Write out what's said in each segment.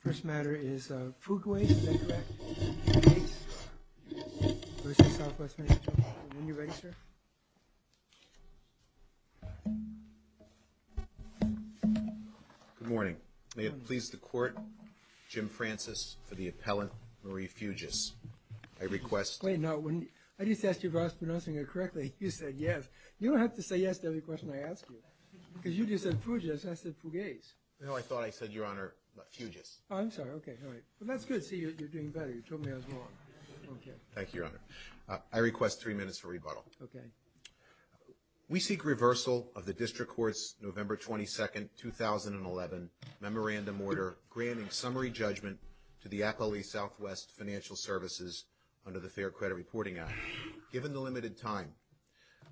First matter is Fugueys, is that correct? Fugueys. Yes. Versus Southwest Financial Services. When you're ready, sir. Good morning. May it please the court, Jim Francis for the appellant, Marie Fuges. I request... Wait, now when... I just asked you if I was pronouncing it correctly, you said yes. You don't have to say yes to every question I ask you. Because you just said Fugues, I said Fugueys. No, I thought I said, Your Honor, Fuges. Oh, I'm sorry. Okay, all right. But that's good. See, you're doing better. You told me I was wrong. Okay. Thank you, Your Honor. I request three minutes for rebuttal. Okay. We seek reversal of the district court's November 22, 2011, memorandum order granting summary judgment to the appellee Southwest Financial Services under the Fair Credit Reporting Act. Given the limited time,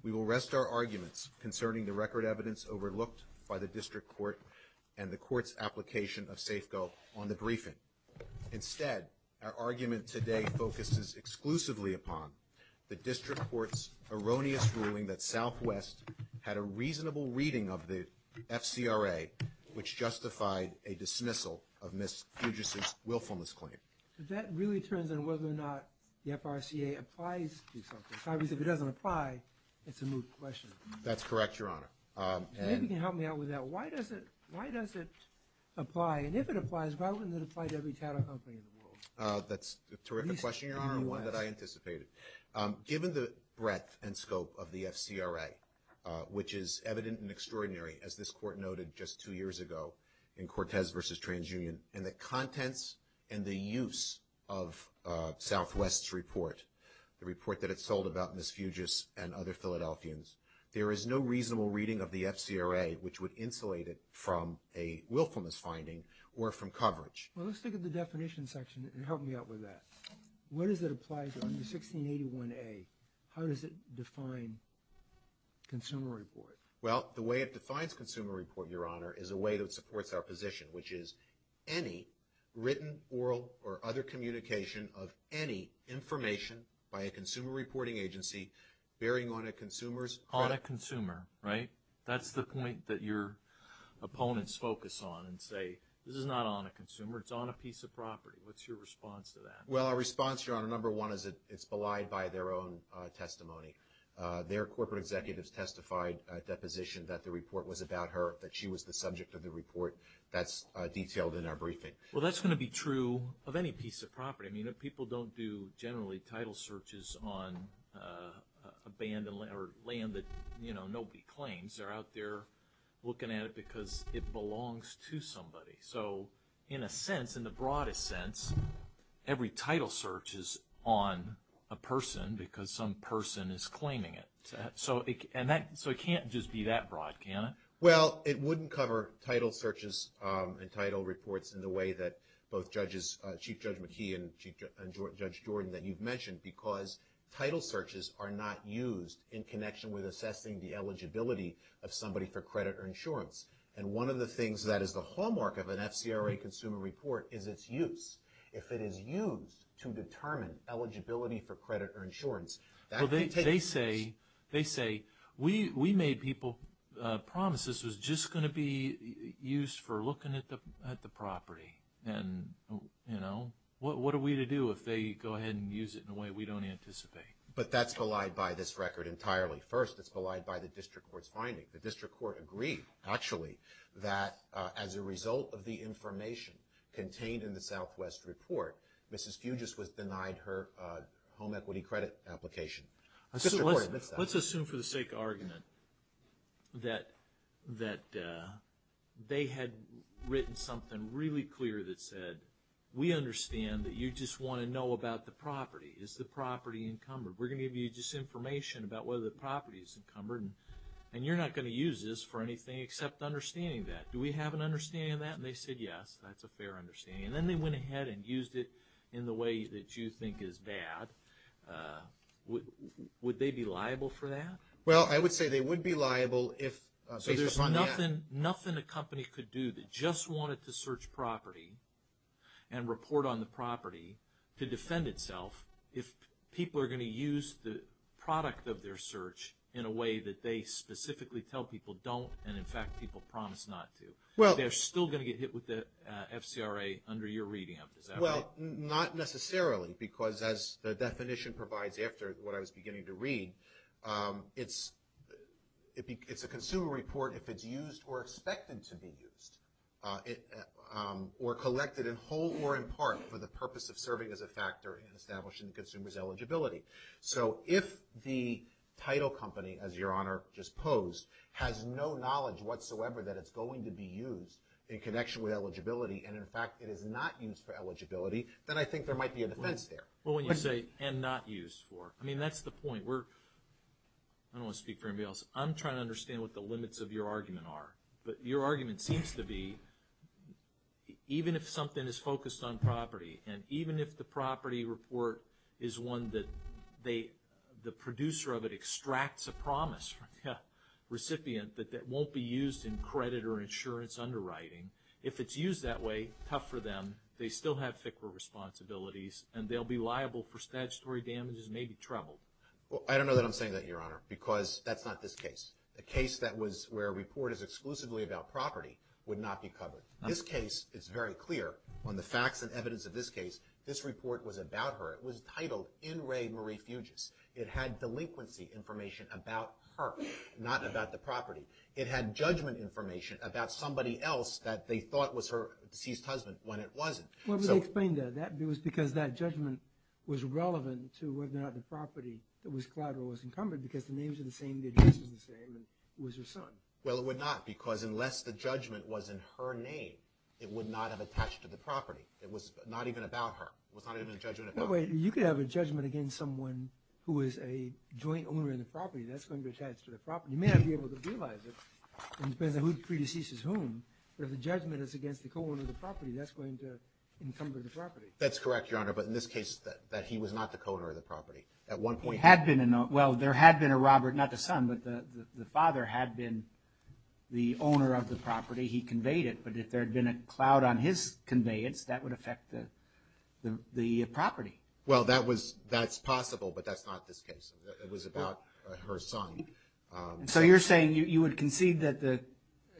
we will rest our arguments concerning the record evidence overlooked by the district court and the court's application of Safeco on the briefing. Instead, our argument today focuses exclusively upon the district court's erroneous ruling that Southwest had a reasonable reading of the FCRA, which justified a dismissal of Ms. Fuges' willfulness claim. So that really turns on whether or not the FRCA applies to Southwest. Obviously, if it doesn't apply, it's a moot question. That's correct, Your Honor. If you can help me out with that, why does it apply? And if it applies, why wouldn't it apply to every title company in the world? That's a terrific question, Your Honor. At least in the U.S. One that I anticipated. Given the breadth and scope of the FCRA, which is evident and extraordinary, as this court noted just two years ago in Cortez v. TransUnion, and the contents and the use of Southwest's report, the report that it sold about Ms. Fuges and other Philadelphians, there is no reasonable reading of the FCRA, which would insulate it from a willfulness finding or from coverage. Well, let's look at the definition section and help me out with that. What does it apply to? Under 1681A, how does it define consumer report? Well, the way it defines consumer report, Your Honor, is a way that supports our position, which is any written, oral, or other communication of any information by a consumer reporting agency bearing on a consumer's credit. A consumer, right? That's the point that your opponents focus on and say, this is not on a consumer. It's on a piece of property. What's your response to that? Well, our response, Your Honor, number one is that it's belied by their own testimony. Their corporate executives testified at that position that the report was about her, that she was the subject of the report. That's detailed in our briefing. Well, that's going to be true of any piece of property. I mean, people don't do, generally, title searches on land that nobody claims. They're out there looking at it because it belongs to somebody. So, in a sense, in the broadest sense, every title search is on a person because some person is claiming it. So, it can't just be that broad, can it? Well, it wouldn't cover title searches and title reports in the way that both Chief Judge McKee and Judge Jordan, that you've mentioned, because title searches are not used in connection with assessing the eligibility of somebody for credit or insurance. And one of the things that is the hallmark of an FCRA consumer report is its use. If it is used to determine eligibility for credit or insurance, that can take place. Well, they say, we made people promise this was just going to be used for looking at the property. And, you know, what are we to do if they go ahead and use it in a way we don't anticipate? But that's belied by this record entirely. First, it's belied by the district court's finding. The district court agreed, actually, that as a result of the information contained in the Southwest report, Mrs. Fugis was denied her home equity credit application. Let's assume for the sake of argument that they had written something really clear that said, we understand that you just want to know about the property. Is the property encumbered? We're going to give you just information about whether the property is encumbered, and you're not going to use this for anything except understanding that. Do we have an understanding of that? And they said, yes, that's a fair understanding. And then they went ahead and used it in the way that you think is bad. Would they be liable for that? Well, I would say they would be liable if based upon that. So there's nothing a company could do that just wanted to search property and report on the property to defend itself if people are going to use the product of their search in a way that they specifically tell people don't and, in fact, people promise not to. They're still going to get hit with the FCRA under your reading of it. Is that right? Well, not necessarily, because as the definition provides after what I was beginning to read, it's a consumer report if it's used or expected to be used or collected in whole or in part for the purpose of serving as a factor in establishing the consumer's eligibility. So if the title company, as Your Honor just posed, has no knowledge whatsoever that it's going to be used in connection with eligibility and, in fact, it is not used for eligibility, then I think there might be a defense there. Well, when you say and not used for, I mean, that's the point. I don't want to speak for anybody else. I'm trying to understand what the limits of your argument are. But your argument seems to be even if something is focused on property and even if the property report is one that the producer of it extracts a promise from the recipient that that won't be used in credit or insurance underwriting, if it's used that way, tough for them. They still have FCRA responsibilities, and they'll be liable for statutory damages and may be troubled. Well, I don't know that I'm saying that, Your Honor, because that's not this case. A case that was where a report is exclusively about property would not be covered. This case is very clear on the facts and evidence of this case. This report was about her. It was titled In Re Marie Fugis. It had delinquency information about her, not about the property. It had judgment information about somebody else that they thought was her deceased husband when it wasn't. Well, but they explained that. It was because that judgment was relevant to whether or not the property that was collateral was encumbered because the names are the same, the address was the same, and it was her son. Well, it would not because unless the judgment was in her name, it would not have attached to the property. It was not even about her. It was not even a judgment about her. Well, wait. You could have a judgment against someone who is a joint owner in the property. That's going to attach to the property. You may not be able to realize it. It depends on who the predecessor is to whom. But if the judgment is against the co-owner of the property, that's going to encumber the property. That's correct, Your Honor. But in this case, that he was not the co-owner of the property. At one point. There had been a Robert, not the son, but the father had been the owner of the property. He conveyed it. But if there had been a cloud on his conveyance, that would affect the property. Well, that's possible, but that's not this case. It was about her son. So you're saying you would concede that the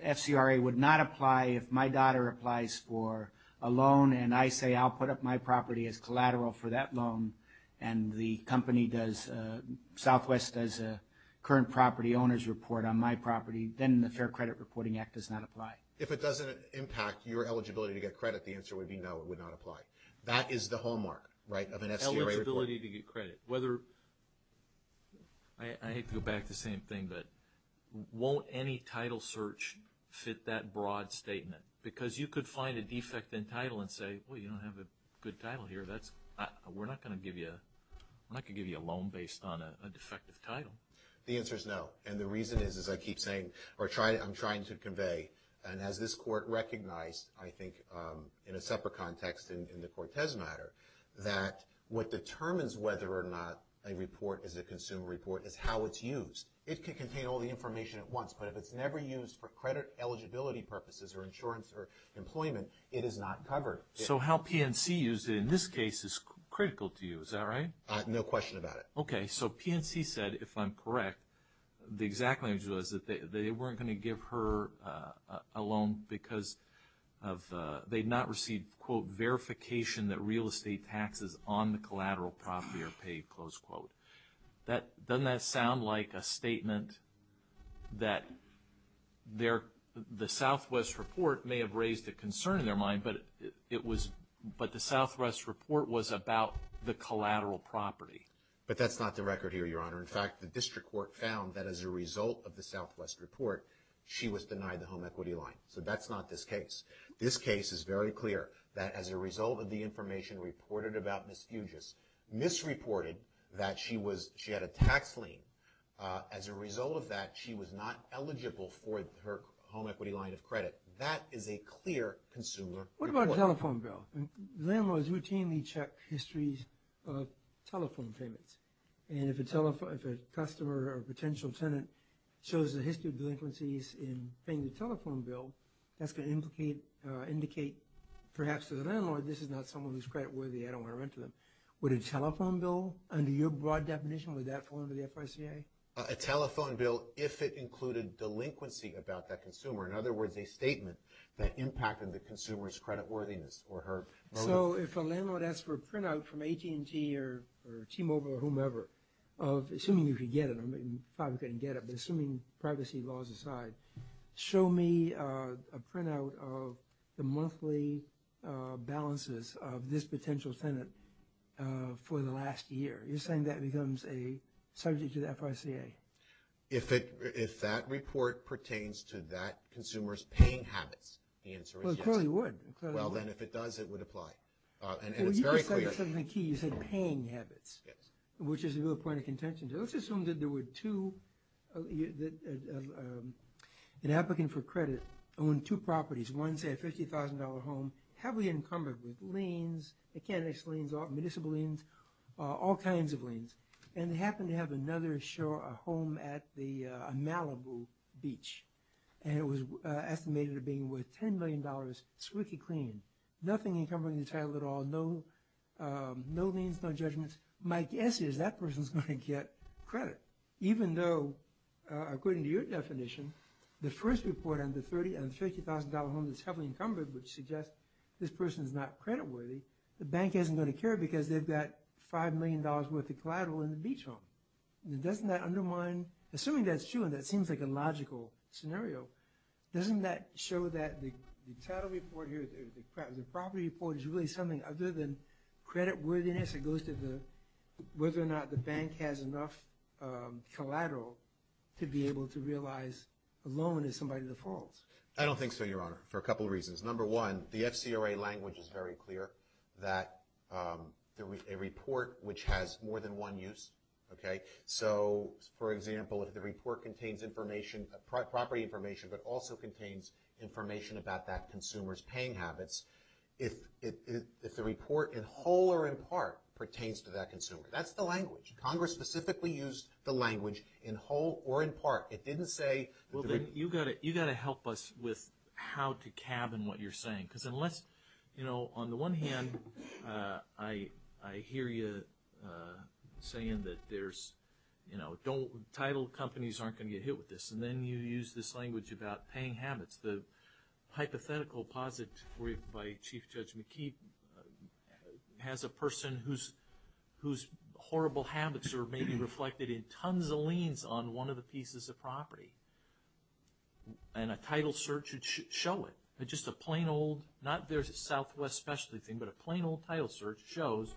FCRA would not apply if my daughter applies for a loan, and I say I'll put up my property as collateral for that loan, and the company does, Southwest does a current property owner's report on my property, then the Fair Credit Reporting Act does not apply. If it doesn't impact your eligibility to get credit, the answer would be no, it would not apply. That is the hallmark, right, of an FCRA report. Eligibility to get credit. I hate to go back to the same thing, but won't any title search fit that broad statement? Because you could find a defect in title and say, well, you don't have a good title here. We're not going to give you a loan based on a defective title. The answer is no. And the reason is, as I keep saying, or I'm trying to convey, and as this court recognized, I think, in a separate context in the Cortez matter, that what determines whether or not a report is a consumer report is how it's used. It could contain all the information at once, but if it's never used for credit eligibility purposes or insurance or employment, it is not covered. So how PNC used it in this case is critical to you, is that right? No question about it. Okay. So PNC said, if I'm correct, the exact language was that they weren't going to give her a they had not received, quote, verification that real estate taxes on the collateral property are paid, close quote. Doesn't that sound like a statement that the Southwest report may have raised a concern in their mind, but the Southwest report was about the collateral property? But that's not the record here, Your Honor. In fact, the district court found that as a result of the Southwest report, she was denied the home equity line. So that's not this case. This case is very clear, that as a result of the information reported about Ms. Fugis, Ms. reported that she had a tax lien. As a result of that, she was not eligible for her home equity line of credit. That is a clear consumer report. What about a telephone bill? Landlords routinely check histories of telephone payments, and if a customer or potential tenant shows a history of delinquencies in paying the telephone bill, that's going to indicate, perhaps to the landlord, this is not someone who's creditworthy, I don't want to rent to them. Would a telephone bill, under your broad definition, would that fall under the FICA? A telephone bill, if it included delinquency about that consumer, in other words, a statement that impacted the consumer's creditworthiness. So if a landlord asks for a printout from AT&T or T-Mobile or whomever, assuming you could get it, I mean, probably couldn't get it, but assuming privacy laws aside, show me a printout of the monthly balances of this potential tenant for the last year. You're saying that becomes a subject to the FICA? If that report pertains to that consumer's paying habits, the answer is yes. Well, it clearly would. Well, then if it does, it would apply, and it's very clear. That's the key, you said paying habits, which is the real point of contention. Let's assume that there were two, an applicant for credit owned two properties, one, say, a $50,000 home, heavily encumbered with liens, mechanics liens, municipal liens, all kinds of liens, and they happened to have another home at Malibu Beach, and it was estimated at being worth $10 million, squeaky clean, nothing encumbering the title at all, no liens, no judgments. My guess is that person's going to get credit, even though according to your definition, the first report on the $30,000 and $50,000 home that's heavily encumbered would suggest this person's not credit worthy. The bank isn't going to care because they've got $5 million worth of collateral in the beach home. Doesn't that undermine, assuming that's true and that seems like a logical scenario, doesn't that show that the title report here, the property report, is really something other than credit worthiness? It goes to whether or not the bank has enough collateral to be able to realize a loan is somebody's fault. I don't think so, Your Honor, for a couple of reasons. Number one, the FCRA language is very clear that a report which has more than one use, so, for example, if the report contains property information but also contains information about that consumer's paying habits, if the report in whole or in part pertains to that consumer, that's the language. Congress specifically used the language in whole or in part. It didn't say... Well, then you've got to help us with how to cabin what you're saying because unless... You know, on the one hand, I hear you saying that there's, you know, title companies aren't going to get hit with this and then you use this language about paying habits. The hypothetical posit by Chief Judge McKee has a person whose horrible habits are maybe reflected in tons of liens on one of the pieces of property and a title search should show it. Just a plain old, not their Southwest specialty thing, but a plain old title search shows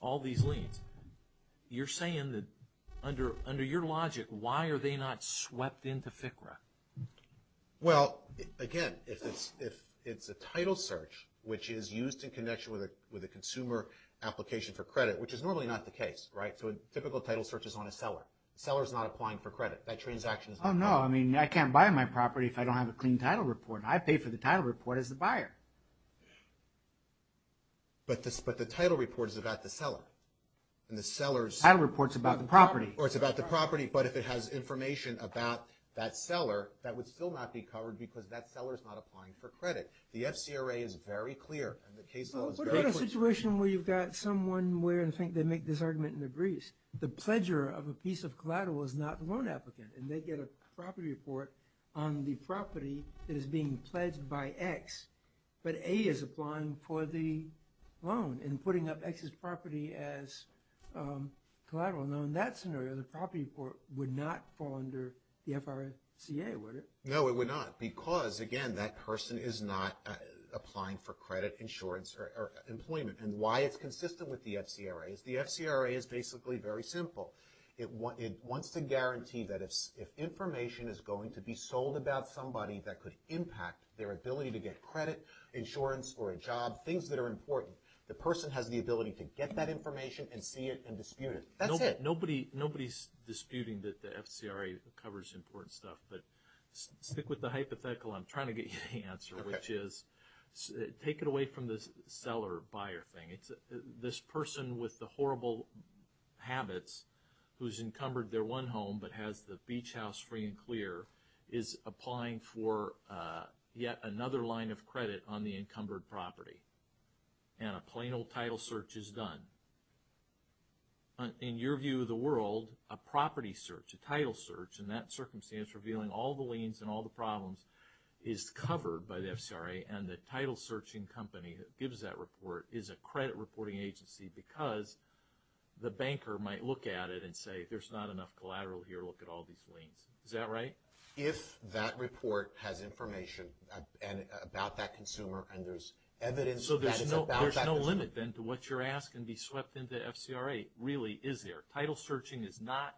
all these liens. You're saying that under your logic, why are they not swept into FCRA? Well, again, if it's a title search, which is used in connection with a consumer application for credit, which is normally not the case, right? So a typical title search is on a seller. The seller's not applying for credit. That transaction is not covered. Oh, no. I mean, I can't buy my property if I don't have a clean title report. I pay for the title report as the buyer. But the title report is about the seller. And the seller's... Title report's about the property. Or it's about the property, but if it has information about that seller, that would still not be covered because that seller's not applying for credit. The FCRA is very clear and the case law is very clear. What about a situation where you've got someone where I think they make this argument and agrees? The pledger of a piece of collateral is not the loan applicant and they get a property report on the property that is being pledged by X. But A is applying for the loan and putting up X's property as collateral. Now, in that scenario, the property report would not fall under the FRCA, would it? No, it would not because, again, that person is not applying for credit, insurance, or employment. And why it's consistent with the FCRA is the FCRA is basically very simple. It wants to guarantee that if information is going to be sold about somebody that could impact their ability to get credit, insurance, or a job, things that are important, the person has the ability to get that information and see it and dispute it. That's it. Nobody's disputing that the FCRA covers important stuff, but stick with the hypothetical I'm trying to get you to answer, which is take it away from the seller-buyer thing. This person with the horrible habits, who's encumbered their one home but has the beach house free and clear, is applying for yet another line of credit on the encumbered property. And a plain old title search is done. In your view of the world, a property search, a title search, in that circumstance revealing all the liens and all the problems, is covered by the FCRA and the title searching company that gives that report is a credit reporting agency because the banker might look at it and say, there's not enough collateral here. Look at all these liens. Is that right? If that report has information about that consumer and there's evidence that it's about that consumer. So there's no limit then to what you're asking to be swept into the FCRA. Really, is there? Title searching is not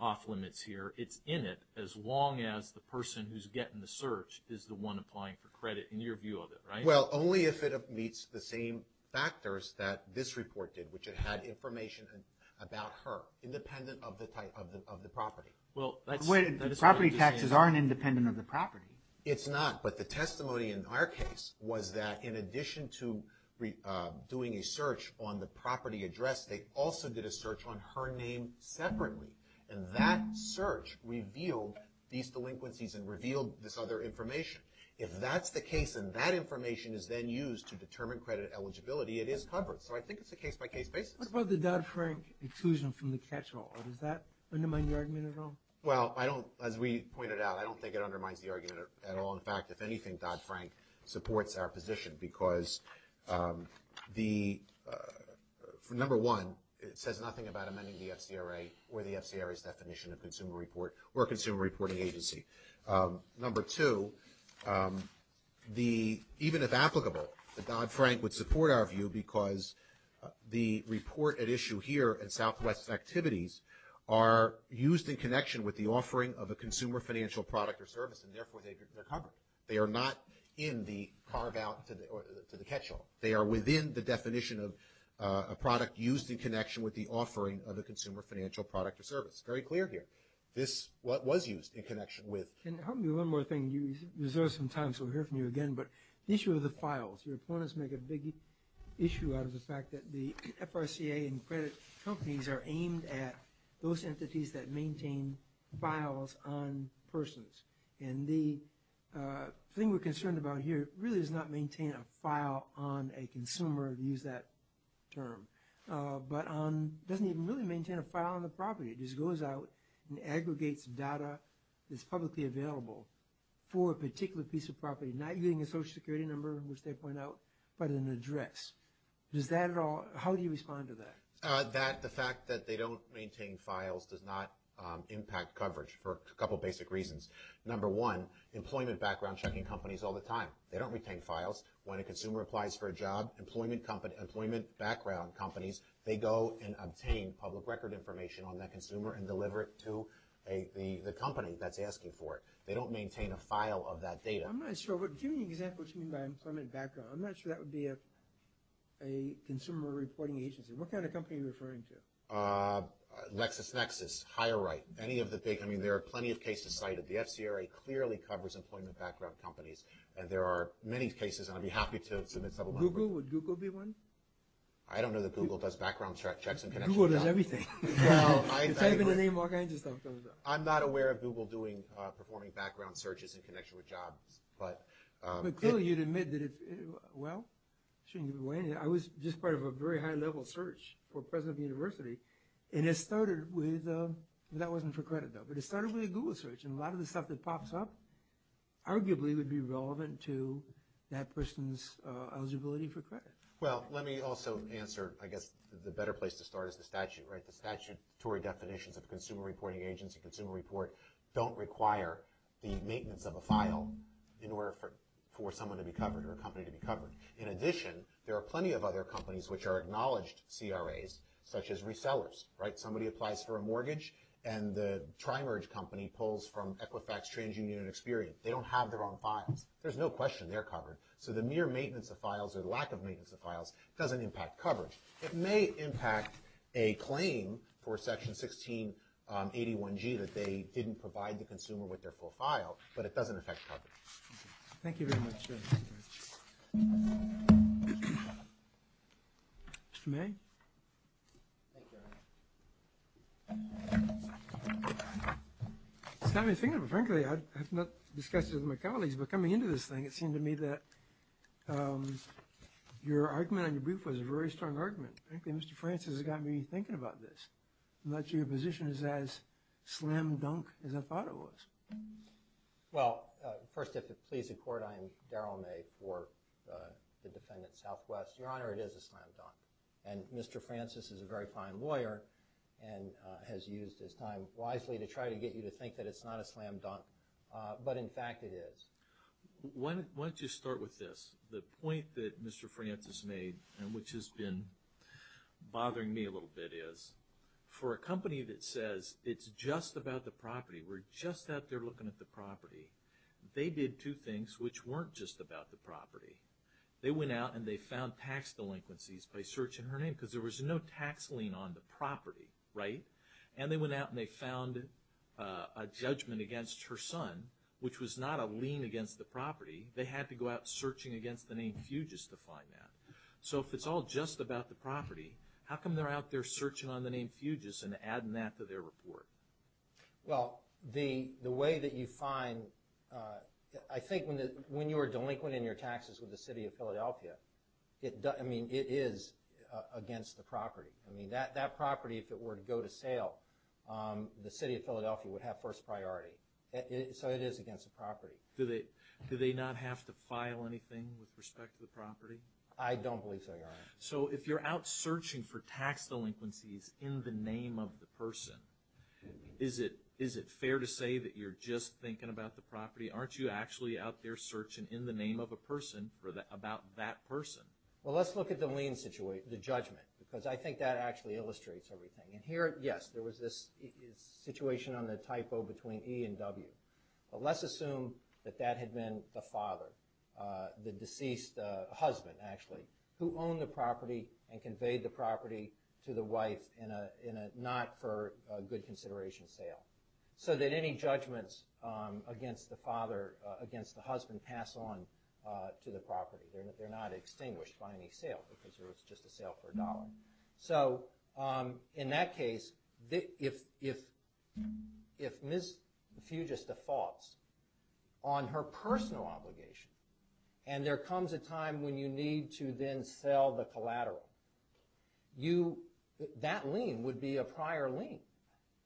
off limits here. It's in it as long as the person who's getting the search is the one applying for credit in your view of it, right? Well, only if it meets the same factors that this report did, which it had information about her, independent of the property. Property taxes aren't independent of the property. It's not. But the testimony in our case was that in addition to doing a search on the property address, they also did a search on her name separately. And that search revealed these delinquencies and revealed this other information. If that's the case and that information is then used to determine credit eligibility, it is covered. So I think it's a case-by-case basis. What about the Dodd-Frank exclusion from the catch-all? Does that undermine the argument at all? Well, as we pointed out, I don't think it undermines the argument at all. In fact, if anything, Dodd-Frank supports our position because, number one, it says nothing about amending the FCRA or the FCRA's definition of consumer report or consumer reporting agency. Number two, even if applicable, the Dodd-Frank would support our view because the report at issue here in Southwest Activities are used in connection with the offering of a consumer financial product or service, and therefore they're covered. They are not in the carve-out to the catch-all. They are within the definition of a product used in connection with the offering of a consumer financial product or service. It's very clear here. This was used in connection with. Can you help me one more thing? You reserved some time, so we'll hear from you again, but the issue of the files. Your opponents make a big issue out of the fact that the FRCA and credit companies are aimed at those entities that maintain files on persons, and the thing we're concerned about here really is not maintain a file on a consumer, to use that term, but doesn't even really maintain a file on the property. It just goes out and aggregates data that's publicly available for a particular piece of property, not using a Social Security number, which they point out, but an address. Does that at all, how do you respond to that? The fact that they don't maintain files does not impact coverage for a couple basic reasons. Number one, employment background checking companies all the time. They don't retain files. When a consumer applies for a job, employment background companies, they go and obtain public record information on that consumer and deliver it to the company that's asking for it. They don't maintain a file of that data. I'm not sure. Give me an example of something by employment background. I'm not sure that would be a consumer reporting agency. What kind of company are you referring to? LexisNexis, HireRight, any of the big, I mean, there are plenty of cases cited. The FCRA clearly covers employment background companies, and there are many cases, and I'd be happy to submit several more. Google, would Google be one? I don't know that Google does background checks in connection with jobs. Google does everything. Well, I agree. The type of the name, all kinds of stuff comes up. I'm not aware of Google performing background searches in connection with jobs. But clearly you'd admit that if, well, I shouldn't give away anything. I was just part of a very high-level search for president of the university, and it started with, that wasn't for credit though, but it started with a Google search, and a lot of the stuff that pops up arguably would be relevant to that person's eligibility for credit. Well, let me also answer, I guess, the better place to start is the statute, right? The statutory definitions of a consumer reporting agency, consumer report, don't require the maintenance of a file in order for someone to be covered or a company to be covered. In addition, there are plenty of other companies which are acknowledged CRAs, such as resellers, right? They don't have their own files. There's no question they're covered. So the mere maintenance of files or the lack of maintenance of files doesn't impact coverage. It may impact a claim for Section 1681G that they didn't provide the consumer with their full file, but it doesn't affect coverage. Thank you very much. Mr. May? Thank you, Your Honor. It's got me thinking. Frankly, I have not discussed it with my colleagues, but coming into this thing, it seemed to me that your argument on your brief was a very strong argument. Frankly, Mr. Francis, it got me thinking about this. I'm not sure your position is as slam dunk as I thought it was. Well, first, if it please the Court, I am Darrell May for the defendant, Southwest. Your Honor, it is a slam dunk, and Mr. Francis is a very fine lawyer and has used his time wisely to try to get you to think that it's not a slam dunk. But, in fact, it is. Why don't you start with this? The point that Mr. Francis made and which has been bothering me a little bit is, for a company that says it's just about the property, we're just out there looking at the property, they did two things which weren't just about the property. They went out and they found tax delinquencies by searching her name because there was no tax lien on the property, right? And they went out and they found a judgment against her son, which was not a lien against the property. They had to go out searching against the name Fugis to find that. So if it's all just about the property, how come they're out there searching on the name Fugis and adding that to their report? Well, the way that you find... I think when you are delinquent in your taxes with the city of Philadelphia, it is against the property. That property, if it were to go to sale, the city of Philadelphia would have first priority. So it is against the property. Do they not have to file anything with respect to the property? I don't believe so, Your Honor. So if you're out searching for tax delinquencies in the name of the person, is it fair to say that you're just thinking about the property? Aren't you actually out there searching in the name of a person about that person? Well, let's look at the lien situation, the judgment, because I think that actually illustrates everything. And here, yes, there was this situation on the typo between E and W. But let's assume that that had been the father, the deceased husband, actually, who owned the property and conveyed the property to the wife, not for good consideration sale, so that any judgments against the father, against the husband, pass on to the property. They're not extinguished by any sale, because it was just a sale for a dollar. So in that case, if Ms. Fugis defaults on her personal obligation, and there comes a time when you need to then sell the collateral, that lien would be a prior lien,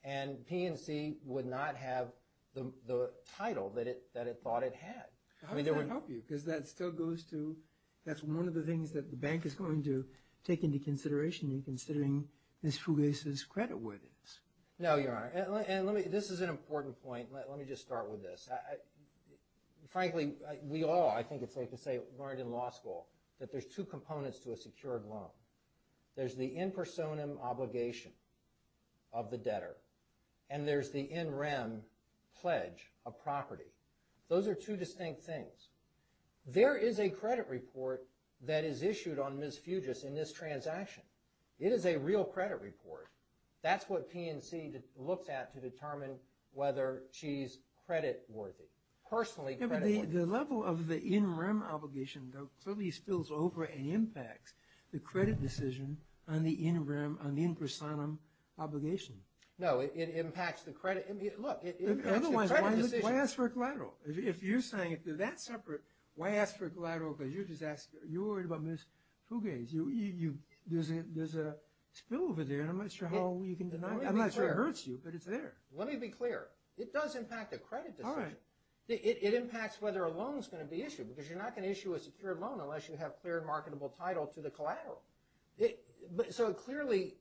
and PNC would not have the title that it thought it had. How does that help you? Because that still goes to, that's one of the things that the bank is going to take into consideration in considering Ms. Fugis' credit worthiness. No, Your Honor. And this is an important point. Let me just start with this. Frankly, we all, I think it's safe to say, learned in law school that there's two components to a secured loan. There's the in personam obligation of the debtor, and there's the in rem pledge of property. Those are two distinct things. There is a credit report that is issued on Ms. Fugis in this transaction. It is a real credit report. That's what PNC looks at to determine whether she's credit worthy, personally credit worthy. The level of the in rem obligation, though, clearly spills over and impacts the credit decision on the in rem, on the in personam obligation. No, it impacts the credit. Look, it impacts the credit decision. Otherwise, why ask for a collateral? If you're saying, if they're that separate, why ask for a collateral because you're just asking, you're worried about Ms. Fugis. There's a spill over there, and I'm not sure how you can deny it. I'm not sure it hurts you, but it's there. Let me be clear. It does impact the credit decision. It impacts whether a loan is going to be issued, because you're not going to issue a secured loan unless you have clear marketable title to the collateral. So it clearly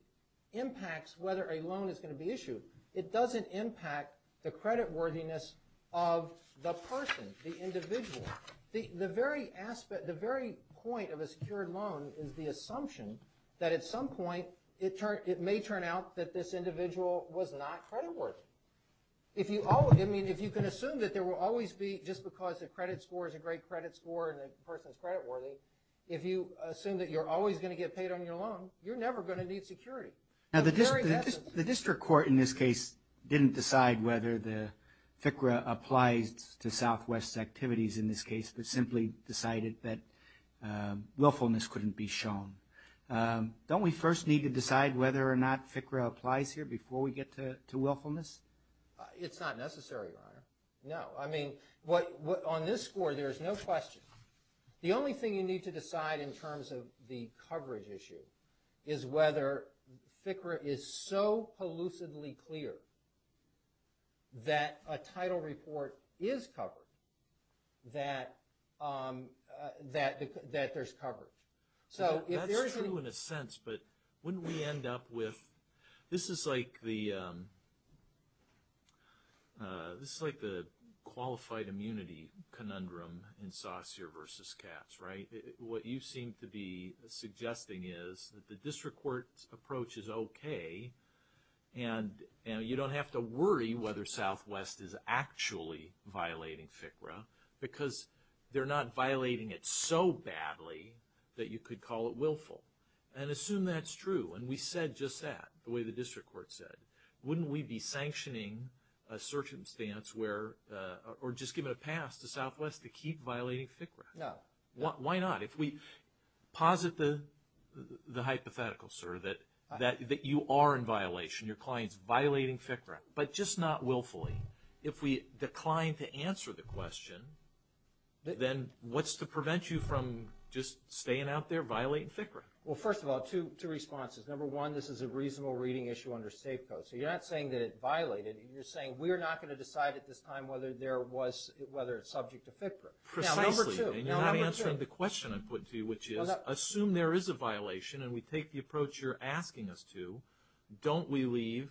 impacts whether a loan is going to be issued. It doesn't impact the credit worthiness of the person, the individual. The very point of a secured loan is the assumption that at some point it may turn out that this individual was not credit worthy. I mean, if you can assume that there will always be, just because the credit score is a great credit score and the person is credit worthy, if you assume that you're always going to get paid on your loan, you're never going to need security. The district court, in this case, didn't decide whether the FCRA applies to Southwest activities in this case, but simply decided that willfulness couldn't be shown. Don't we first need to decide whether or not FCRA applies here before we get to willfulness? It's not necessary, Your Honor. No. I mean, on this score, there's no question. The only thing you need to decide in terms of the coverage issue is whether FCRA is so elusively clear that a title report is covered, that there's coverage. That's true in a sense, but wouldn't we end up with, this is like the qualified immunity conundrum in Saussure versus Katz, right? What you seem to be suggesting is that the district court's approach is okay and you don't have to worry whether Southwest is actually violating FCRA because they're not violating it so badly that you could call it willful. And assume that's true, and we said just that, the way the district court said. Wouldn't we be sanctioning a circumstance where, or just giving a pass to Southwest to keep violating FCRA? No. Why not? If we posit the hypothetical, sir, that you are in violation, your client's violating FCRA, but just not willfully. If we decline to answer the question, then what's to prevent you from just staying out there violating FCRA? Well, first of all, two responses. Number one, this is a reasonable reading issue under state code. So you're not saying that it violated. You're saying we're not going to decide at this time whether it's subject to FCRA. Precisely. And you're not answering the question I put to you, which is assume there is a violation and we take the approach you're asking us to, don't we leave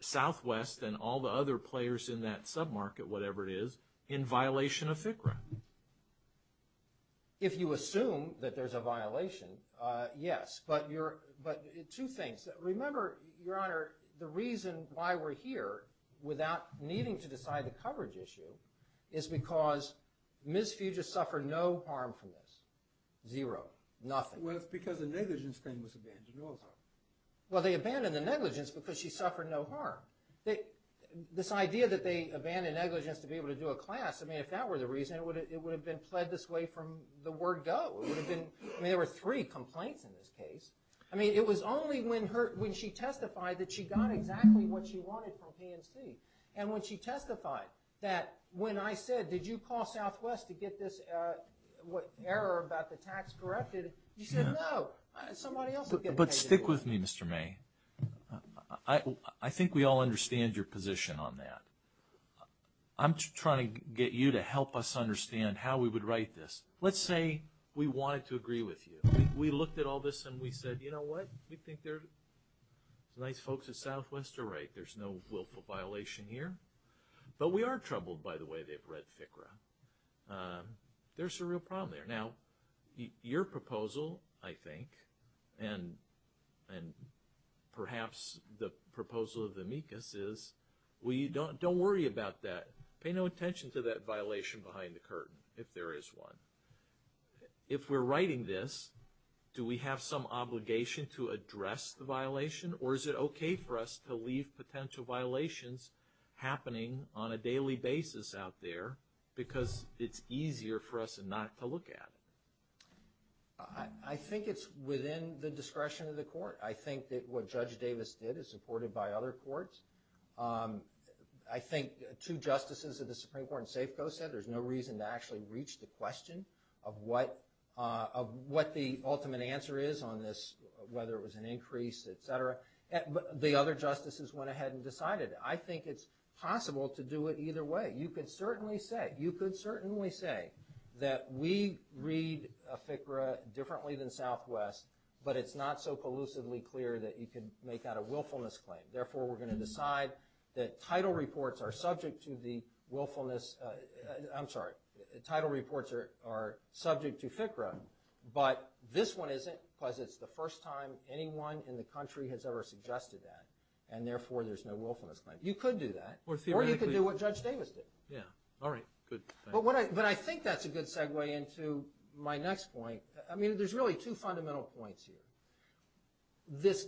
Southwest and all the other players in that sub-market, whatever it is, in violation of FCRA? If you assume that there's a violation, yes. But two things. Remember, Your Honor, the reason why we're here without needing to decide the coverage issue is because Ms. Fugis suffered no harm from this. Zero. Nothing. Well, it's because the negligence claim was abandoned also. Well, they abandoned the negligence because she suffered no harm. This idea that they abandoned negligence to be able to do a class, I mean, if that were the reason, it would have been pled this way from the word go. I mean, there were three complaints in this case. I mean, it was only when she testified that she got exactly what she wanted from PNC. And when she testified that when I said, did you call Southwest to get this error about the tax corrected, you said no, somebody else would get ahead of you. But stick with me, Mr. May. I think we all understand your position on that. I'm trying to get you to help us understand how we would write this. Let's say we wanted to agree with you. We looked at all this and we said, you know what? We think there's nice folks at Southwest are right. There's no willful violation here. But we are troubled by the way they've read FCRA. There's a real problem there. Now, your proposal, I think, and perhaps the proposal of the amicus is, don't worry about that. Pay no attention to that violation behind the curtain, if there is one. If we're writing this, do we have some obligation to address the violation? Or is it okay for us to leave potential violations happening on a daily basis out there because it's easier for us not to look at it? I think it's within the discretion of the court. I think that what Judge Davis did is supported by other courts. I think two justices of the Supreme Court in Safeco said there's no reason to actually reach the question of what the ultimate answer is on this, whether it was an increase, et cetera. The other justices went ahead and decided. I think it's possible to do it either way. You could certainly say that we read FCRA differently than Southwest, but it's not so collusively clear that you can make out a willfulness claim. Therefore, we're going to decide that title reports are subject to FCRA, but this one isn't because it's the first time anyone in the country has ever suggested that, and therefore there's no willfulness claim. You could do that. Or you could do what Judge Davis did. But I think that's a good segue into my next point. There's really two fundamental points here. This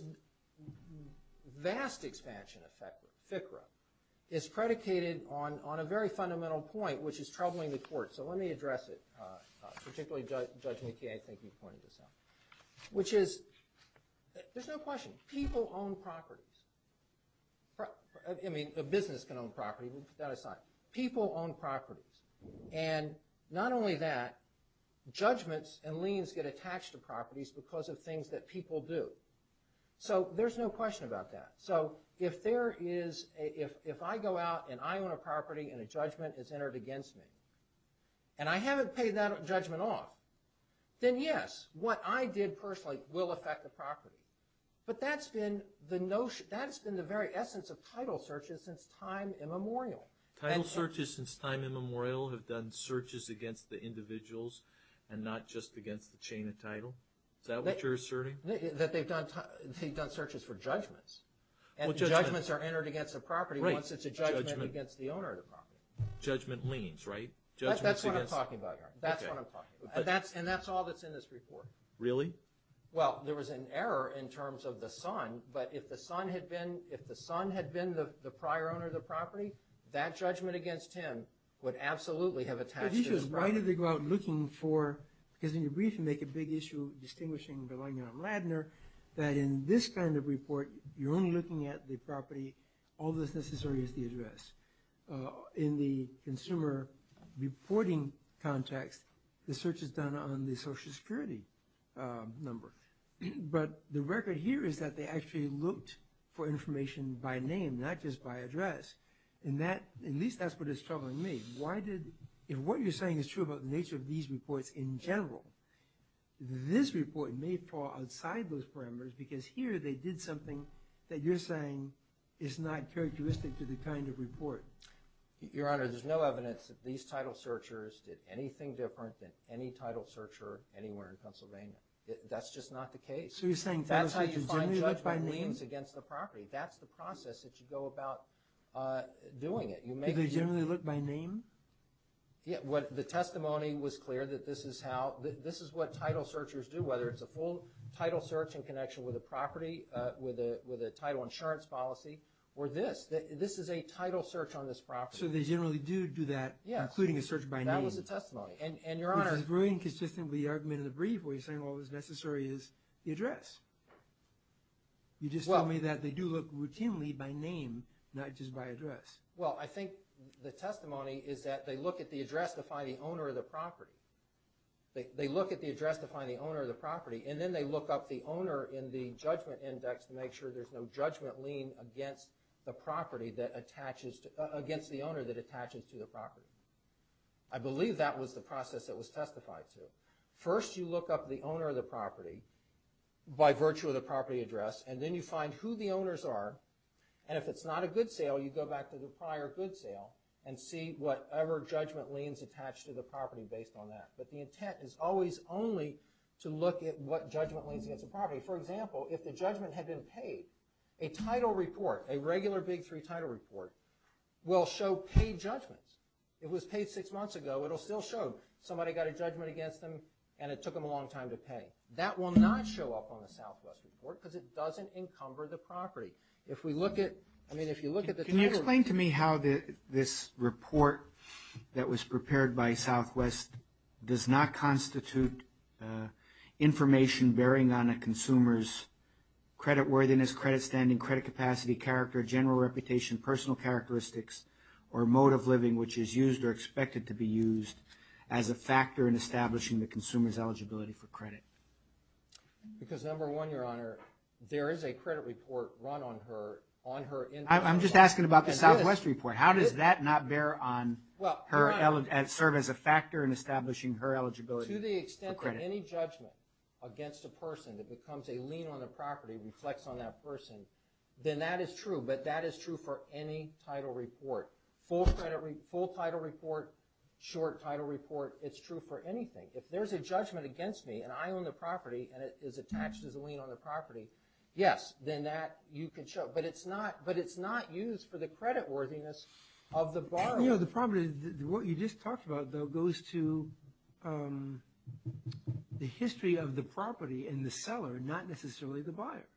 vast expansion of FCRA is predicated on a very fundamental point, which is troubling the court. So let me address it, particularly Judge McKay, I think he pointed this out, which is there's no question, people own properties. I mean, a business can own property. We'll put that aside. People own properties. And not only that, judgments and liens get attached to properties because of things that people do. So there's no question about that. So if I go out and I own a property and a judgment is entered against me, and I haven't paid that judgment off, then yes, what I did personally will affect the property. But that's been the very essence of title searches since time immemorial. Title searches since time immemorial have done searches against the individuals and not just against the chain of title. Is that what you're asserting? They've done searches for judgments. And judgments are entered against a property once it's a judgment against the owner of the property. Judgment liens, right? That's what I'm talking about, Your Honor. That's what I'm talking about. And that's all that's in this report. Really? Well, there was an error in terms of the son, but if the son had been the prior owner of the property, that judgment against him would absolutely have attached to his property. The question is why did they go out looking for, because in your brief you make a big issue distinguishing Berlanga and Ladner, that in this kind of report you're only looking at the property, all that's necessary is the address. In the consumer reporting context, the search is done on the Social Security number. But the record here is that they actually looked for information by name, not just by address. And that, at least that's what is troubling me. If what you're saying is true about the nature of these reports in general, this report may fall outside those parameters, because here they did something that you're saying is not characteristic to the kind of report. Your Honor, there's no evidence that these title searchers did anything different than any title searcher anywhere in Pennsylvania. That's just not the case. So you're saying title searchers generally look by name? That's how you find judgment liens against the property. That's the process that you go about doing it. Do they generally look by name? Yeah. The testimony was clear that this is what title searchers do, whether it's a full title search in connection with a property, with a title insurance policy, or this. This is a title search on this property. So they generally do do that, including a search by name. That was the testimony. And, Your Honor— Which is very inconsistent with the argument in the brief, where you're saying all that's necessary is the address. You just told me that they do look routinely by name, not just by address. Well, I think the testimony is that they look at the address to find the owner of the property. They look at the address to find the owner of the property, and then they look up the owner in the judgment index to make sure there's no judgment lien against the property that attaches to— against the owner that attaches to the property. I believe that was the process that was testified to. First, you look up the owner of the property by virtue of the property address, and then you find who the owners are. And if it's not a good sale, you go back to the prior good sale and see whatever judgment liens attached to the property based on that. But the intent is always only to look at what judgment liens against the property. For example, if the judgment had been paid, a title report, a regular Big Three title report, will show paid judgments. It was paid six months ago. It'll still show somebody got a judgment against them, and it took them a long time to pay. I mean, if you look at the title— Can you explain to me how this report that was prepared by Southwest does not constitute information bearing on a consumer's credit worthiness, credit standing, credit capacity, character, general reputation, personal characteristics, or mode of living which is used or expected to be used as a factor in establishing the consumer's eligibility for credit? Because, number one, Your Honor, there is a credit report run on her— I'm just asking about the Southwest report. How does that not serve as a factor in establishing her eligibility for credit? To the extent that any judgment against a person that becomes a lien on the property reflects on that person, then that is true. But that is true for any title report. Full title report, short title report, it's true for anything. If there's a judgment against me, and I own the property, and it is attached as a lien on the property, yes, then that you can show. But it's not used for the credit worthiness of the borrower. You know, the property, what you just talked about, though, goes to the history of the property and the seller, not necessarily the buyer.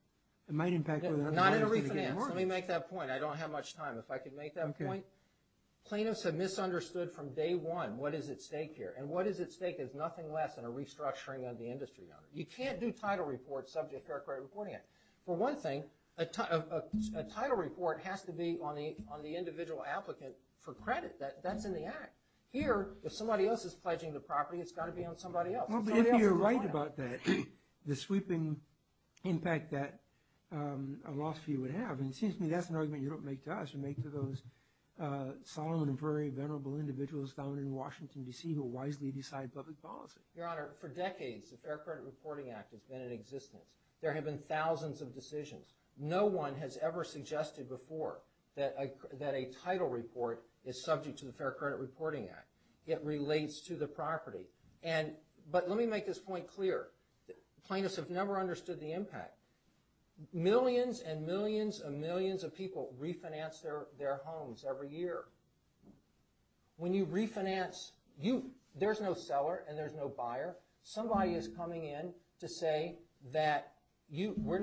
It might impact— Not in a refinance. Let me make that point. I don't have much time. If I could make that point. Okay. Plaintiffs have misunderstood from day one what is at stake here, and what is at stake is nothing less than a restructuring of the industry, Your Honor. You can't do title reports subject to the Fair Credit Reporting Act. For one thing, a title report has to be on the individual applicant for credit. That's in the act. Here, if somebody else is pledging the property, it's got to be on somebody else. Well, but if you're right about that, the sweeping impact that a loss fee would have, and it seems to me that's an argument you don't make to us, you make to those solemn and very venerable individuals down in Washington, D.C., who wisely decide public policy. Your Honor, for decades the Fair Credit Reporting Act has been in existence. There have been thousands of decisions. No one has ever suggested before that a title report is subject to the Fair Credit Reporting Act. It relates to the property. But let me make this point clear. Plaintiffs have never understood the impact. Millions and millions and millions of people refinance their homes every year. When you refinance, there's no seller and there's no buyer. Somebody is coming in to say that we're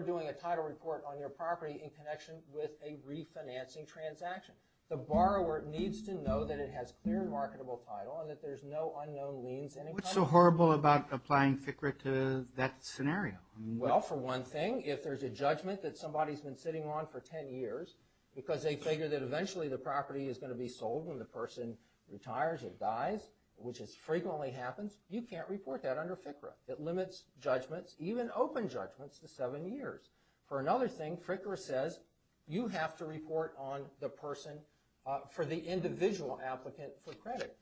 doing a title report on your property in connection with a refinancing transaction. The borrower needs to know that it has clear and marketable title and that there's no unknown liens in it. What's so horrible about applying FCRA to that scenario? Well, for one thing, if there's a judgment that somebody's been sitting on for 10 years because they figure that eventually the property is going to be sold when the person retires or dies, which frequently happens, you can't report that under FCRA. It limits judgments, even open judgments, to seven years. For another thing, FCRA says you have to report on the person for the individual applicant for credit.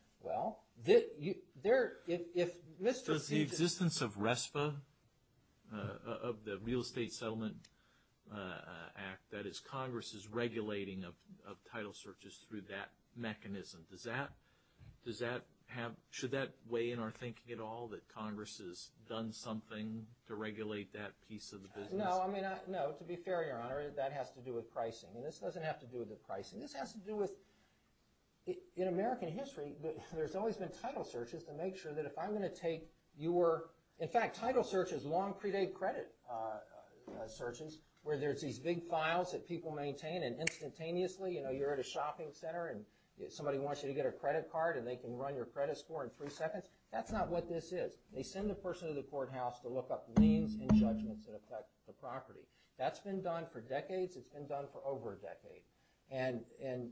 Does the existence of RESPA, of the Real Estate Settlement Act, that is Congress's regulating of title searches through that mechanism, should that weigh in our thinking at all that Congress has done something to regulate that piece of the business? No, to be fair, Your Honor, that has to do with pricing. This doesn't have to do with the pricing. This has to do with, in American history, there's always been title searches to make sure that if I'm going to take your... In fact, title searches, long predate credit searches, where there's these big files that people maintain and instantaneously, you're at a shopping center and somebody wants you to get a credit card and they can run your credit score in three seconds. That's not what this is. They send the person to the courthouse to look up liens and judgments that affect the property. That's been done for decades. It's been done for over a decade.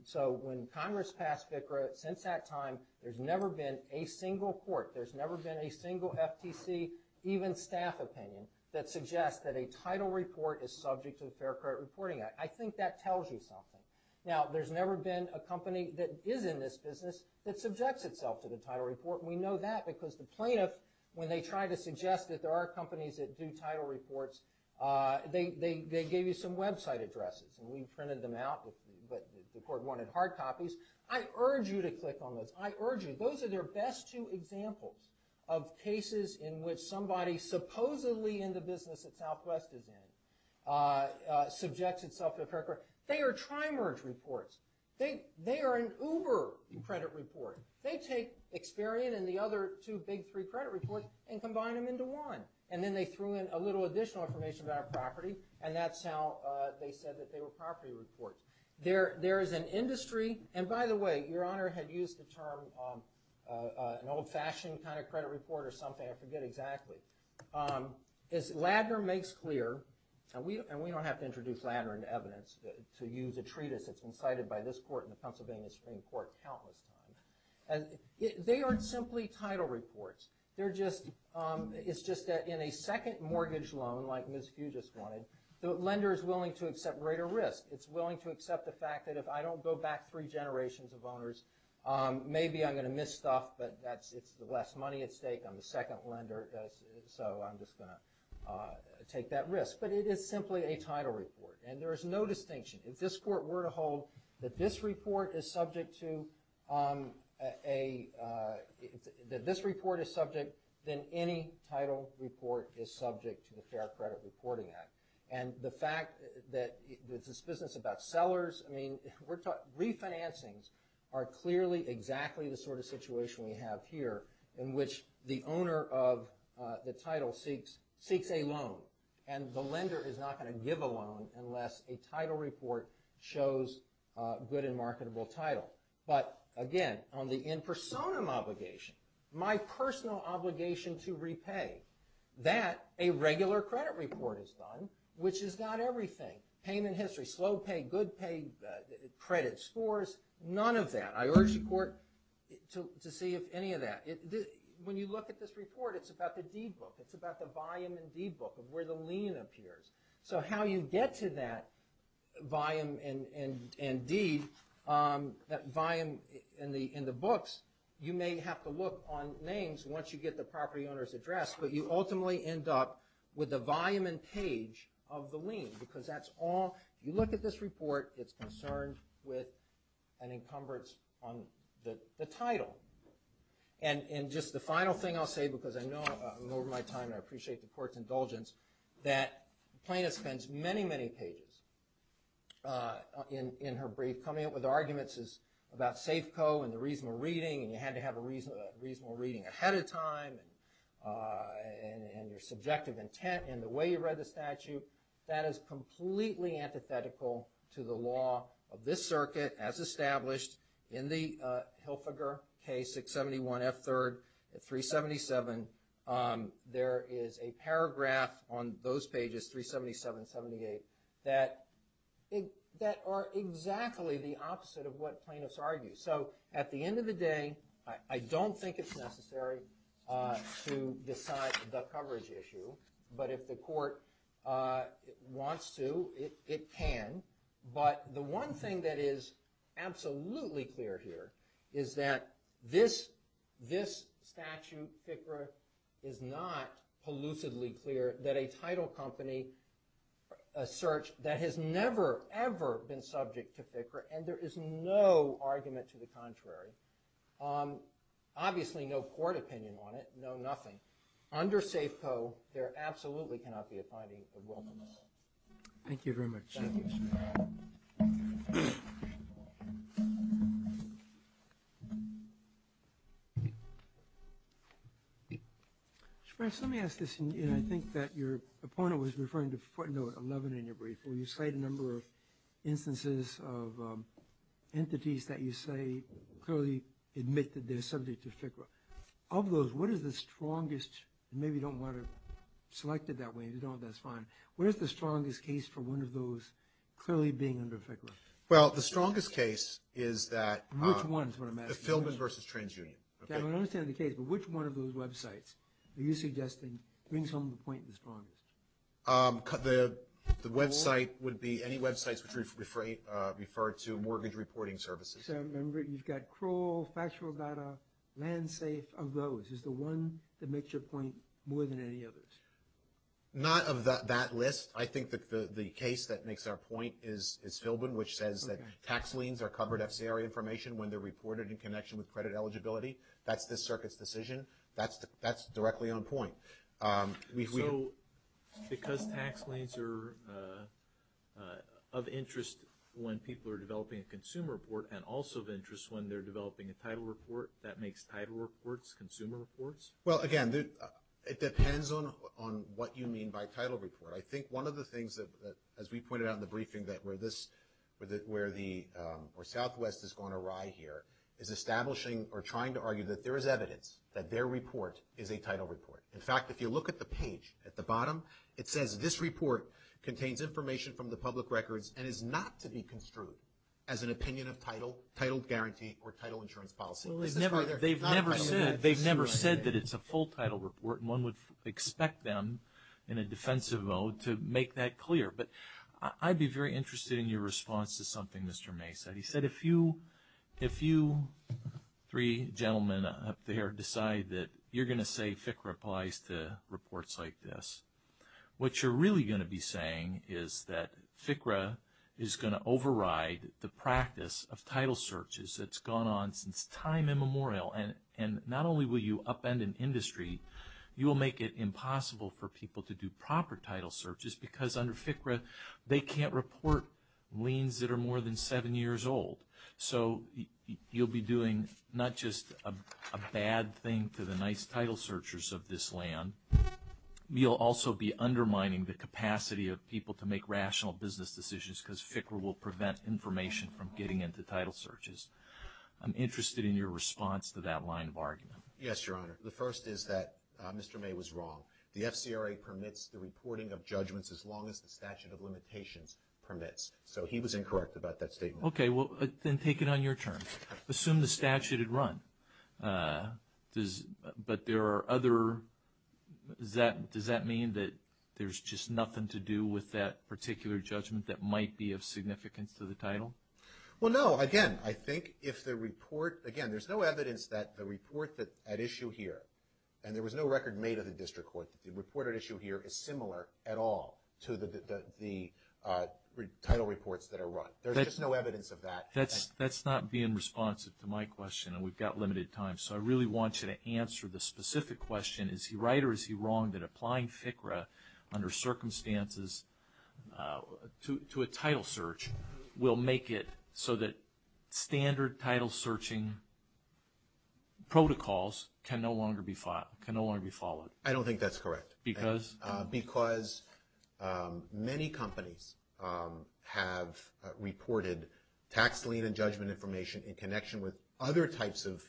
So when Congress passed FCRA, since that time, there's never been a single court, there's never been a single FTC, even staff opinion, that suggests that a title report is subject to the Fair Credit Reporting Act. I think that tells you something. Now, there's never been a company that is in this business that subjects itself to the title report. We know that because the plaintiff, when they try to suggest that there are companies that do title reports, they gave you some website addresses. And we printed them out, but the court wanted hard copies. I urge you to click on those. I urge you. Those are their best two examples of cases in which somebody supposedly in the business that Southwest is in subjects itself to a credit card. They are tri-merge reports. They are an Uber credit report. They take Experian and the other two big three credit reports and combine them into one. And then they threw in a little additional information about a property, and that's how they said that they were property reports. There is an industry, and by the way, Your Honor had used the term an old-fashioned kind of credit report or something. I forget exactly. Ladner makes clear, and we don't have to introduce Ladner into evidence to use a treatise that's been cited by this court and the Pennsylvania Supreme Court countless times. They aren't simply title reports. It's just that in a second mortgage loan like Ms. Hughes just wanted, the lender is willing to accept greater risk. It's willing to accept the fact that if I don't go back three generations of owners, maybe I'm going to miss stuff, but it's the last money at stake. I'm the second lender, so I'm just going to take that risk. But it is simply a title report, and there is no distinction. If this court were to hold that this report is subject to a that this report is subject, then any title report is subject to the Fair Credit Reporting Act. And the fact that it's this business about sellers, I mean, refinancings are clearly exactly the sort of situation we have here in which the owner of the title seeks a loan, and the lender is not going to give a loan unless a title report shows a good and marketable title. But again, on the in personam obligation, my personal obligation to repay, that a regular credit report is done, which is not everything. Payment history, slow pay, good pay, credit scores, none of that. I urge the court to see if any of that. When you look at this report, it's about the deed book. It's about the volume and deed book of where the lien appears. So how you get to that volume and deed, that volume in the books, you may have to look on names once you get the property owner's address, but you ultimately end up with the volume and page of the lien, because that's all, you look at this report, it's concerned with an encumbrance on the title. And just the final thing I'll say, because I know I'm over my time and I appreciate the court's indulgence, that the plaintiff spends many, many pages in her brief coming up with arguments about Safeco and the reasonable reading, and you had to have a reasonable reading ahead of time, and your subjective intent, and the way you read the statute, that is completely antithetical to the law of this circuit, as established in the Hilfiger case, 671 F3rd, 377. There is a paragraph on those pages, 377, 78, that are exactly the opposite of what plaintiffs argue. So at the end of the day, I don't think it's necessary to decide the coverage issue, but if the court wants to, it can. But the one thing that is absolutely clear here is that this statute, FICRA, is not pollutedly clear that a title company, a search, that has never, ever been subject to FICRA, and there is no argument to the contrary, obviously no court opinion on it, no nothing, under Safeco, there absolutely cannot be a finding of wilfulness. Thank you very much. Thank you, Your Honor. Your Honor, let me ask this, and I think that your opponent was referring to footnote 11 in your brief, where you cite a number of instances of entities that you say clearly admit that they're subject to FICRA. Of those, what is the strongest, and maybe you don't want to select it that way, but if you don't, that's fine, where is the strongest case for one of those clearly being under FICRA? Well, the strongest case is that Which one is what I'm asking? The Philbin versus TransUnion. I understand the case, but which one of those websites are you suggesting brings home the point the strongest? The website would be any websites which refer to mortgage reporting services. So remember, you've got Kroll, Factual Data, LandSafe, of those, is the one that makes your point more than any others? Not of that list. I think the case that makes our point is Philbin, which says that tax liens are covered FCRA information when they're reported in connection with credit eligibility. That's this circuit's decision. That's directly on point. So because tax liens are of interest when people are developing a consumer report and also of interest when they're developing a title report, that makes title reports consumer reports? Well, again, it depends on what you mean by title report. I think one of the things that, as we pointed out in the briefing, that where the Southwest has gone awry here is establishing or trying to argue that there is evidence that their report is a title report. In fact, if you look at the page at the bottom, it says this report contains information from the public records and is not to be construed as an opinion of title, title guarantee, or title insurance policy. They've never said that it's a full title report and one would expect them in a defensive mode to make that clear. But I'd be very interested in your response to something Mr. May said. He said if you three gentlemen up there decide that you're going to say FCRA applies to reports like this, what you're really going to be saying is that FCRA is going to override the practice of title searches that's gone on since time immemorial. And not only will you upend an industry, you will make it impossible for people to do proper title searches because under FCRA they can't report liens that are more than seven years old. So you'll be doing not just a bad thing to the nice title searchers of this land, you'll also be undermining the capacity of people to make rational business decisions because FCRA will prevent information from getting into title searches. I'm interested in your response to that line of argument. Yes, Your Honor. The first is that Mr. May was wrong. The FCRA permits the reporting of judgments as long as the statute of limitations permits. So he was incorrect about that statement. Okay, well then take it on your terms. Assume the statute had run. But there are other, does that mean that there's just nothing to do with that particular judgment that might be of significance to the title? Well, no. Again, I think if the report, again, there's no evidence that the report at issue here, and there was no record made of the district court, that the report at issue here is similar at all to the title reports that are run. There's just no evidence of that. That's not being responsive to my question, and we've got limited time. So I really want you to answer the specific question, is he right or is he wrong that applying FCRA under circumstances to a title search will make it so that standard title searching protocols can no longer be followed? I don't think that's correct. Because? Because many companies have reported tax lien and judgment information in connection with other types of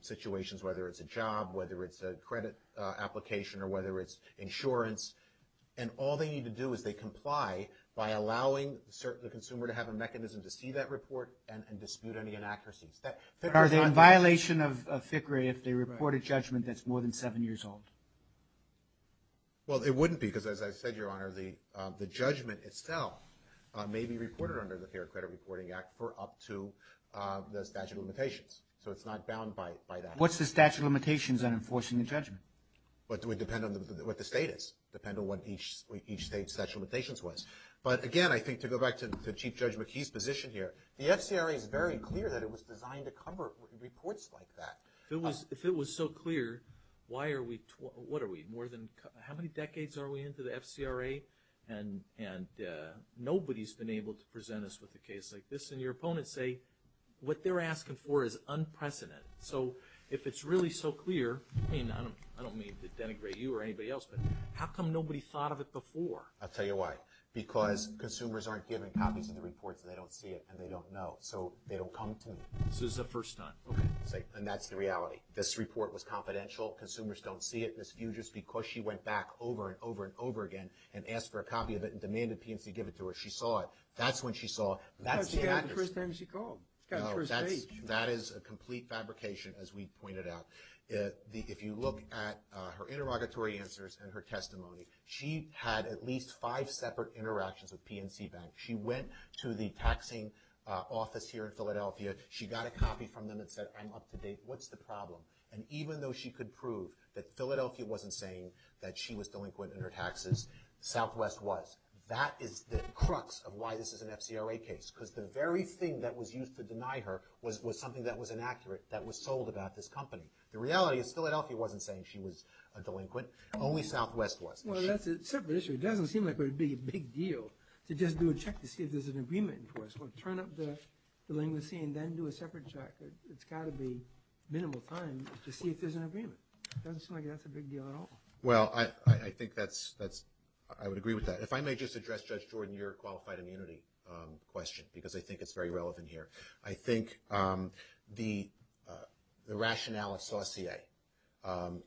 situations, whether it's a job, whether it's a credit application, or whether it's insurance. And all they need to do is they comply by allowing the consumer to have a mechanism to see that report and dispute any inaccuracies. Are they in violation of FCRA if they report a judgment that's more than seven years old? Well, it wouldn't be, because as I said, Your Honor, the judgment itself may be reported under the Fair Credit Reporting Act for up to the statute of limitations. So it's not bound by that. What's the statute of limitations on enforcing the judgment? Well, it would depend on what the state is, depend on what each state's statute of limitations was. But, again, I think to go back to Chief Judge McKee's position here, the FCRA is very clear that it was designed to cover reports like that. If it was so clear, why are we, what are we, more than, how many decades are we into the FCRA? And nobody's been able to present us with a case like this, and your opponents say what they're asking for is unprecedented. So if it's really so clear, I mean, I don't mean to denigrate you or anybody else, but how come nobody thought of it before? I'll tell you why. Because consumers aren't giving copies of the reports, and they don't see it, and they don't know. So they don't come to me. So this is the first time, okay. And that's the reality. This report was confidential. Consumers don't see it. Ms. Fugis, because she went back over and over and over again and asked for a copy of it and demanded PNC give it to her, she saw it. That's when she saw it. That's the accuracy. That's the first time she called. That is a complete fabrication, as we pointed out. If you look at her interrogatory answers and her testimony, she had at least five separate interactions with PNC Bank. She went to the taxing office here in Philadelphia. She got a copy from them and said, I'm up to date. What's the problem? And even though she could prove that Philadelphia wasn't saying that she was delinquent in her taxes, Southwest was. That is the crux of why this is an FCRA case. Because the very thing that was used to deny her was something that was inaccurate, that was sold about this company. The reality is Philadelphia wasn't saying she was a delinquent. Only Southwest was. Well, that's a separate issue. It doesn't seem like it would be a big deal to just do a check to see if there's an agreement. Turn up the delinquency and then do a separate check. It's got to be minimal time to see if there's an agreement. It doesn't seem like that's a big deal at all. Well, I think that's – I would agree with that. If I may just address, Judge Jordan, your qualified immunity question, because I think it's very relevant here. I think the rationale of saucier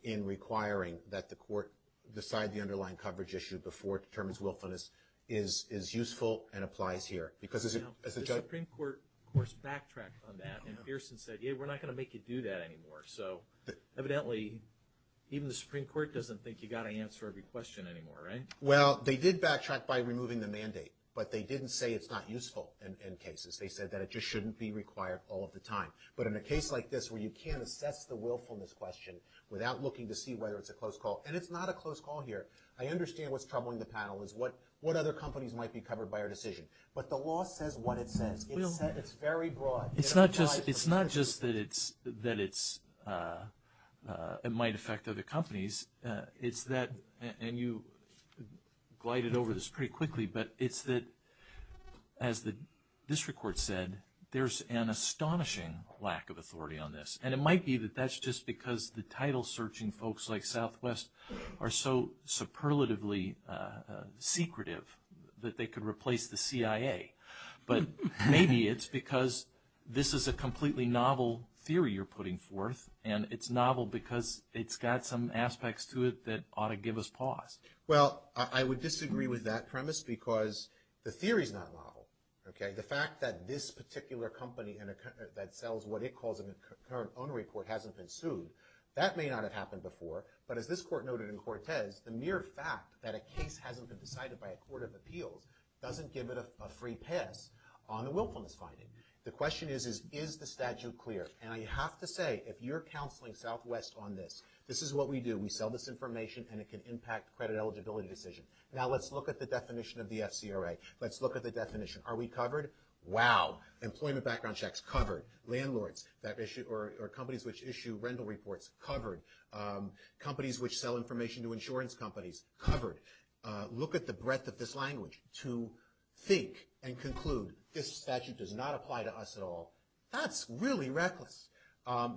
in requiring that the court decide the underlying coverage issue before it determines willfulness is useful and applies here. The Supreme Court, of course, backtracked on that, and Pearson said, yeah, we're not going to make you do that anymore. So evidently even the Supreme Court doesn't think you've got to answer every question anymore, right? Well, they did backtrack by removing the mandate, but they didn't say it's not useful in cases. They said that it just shouldn't be required all of the time. But in a case like this where you can't assess the willfulness question without looking to see whether it's a close call – and it's not a close call here. I understand what's troubling the panel is what other companies might be covered by our decision. But the law says what it says. It's very broad. It's not just that it might affect other companies. And you glided over this pretty quickly, but it's that, as the district court said, there's an astonishing lack of authority on this. And it might be that that's just because the title-searching folks like Southwest are so superlatively secretive that they could replace the CIA. But maybe it's because this is a completely novel theory you're putting forth, and it's novel because it's got some aspects to it that ought to give us pause. Well, I would disagree with that premise because the theory's not novel, okay? The fact that this particular company that sells what it calls an incurrent ownery court hasn't been sued, that may not have happened before. But as this court noted in Cortez, the mere fact that a case hasn't been decided by a court of appeals doesn't give it a free pass on the willfulness finding. The question is, is the statute clear? And I have to say, if you're counseling Southwest on this, this is what we do. We sell this information, and it can impact credit eligibility decisions. Now let's look at the definition of the FCRA. Let's look at the definition. Are we covered? Wow. Employment background checks, covered. Landlords or companies which issue rental reports, covered. Companies which sell information to insurance companies, covered. Look at the breadth of this language to think and conclude this statute does not apply to us at all. That's really reckless.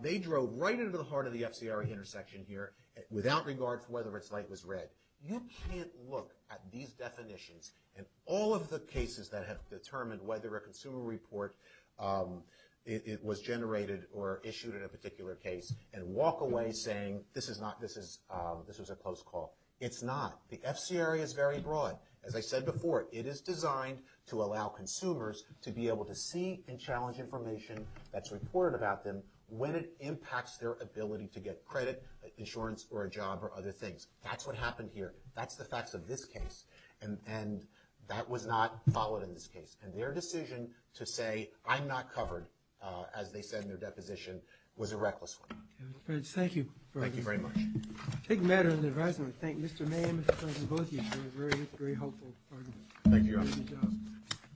They drove right into the heart of the FCRA intersection here, without regard for whether its light was red. You can't look at these definitions and all of the cases that have determined whether a consumer report was generated or issued in a particular case and walk away saying this was a close call. It's not. The FCRA is very broad. As I said before, it is designed to allow consumers to be able to see and challenge information that's reported about them when it impacts their ability to get credit, insurance, or a job, or other things. That's what happened here. That's the facts of this case. And that was not followed in this case. And their decision to say, I'm not covered, as they said in their deposition, was a reckless one. Thank you. Thank you very much. A big matter in the advisory. I want to thank Mr. May and Mr. Johnson, both of you, for a very helpful argument.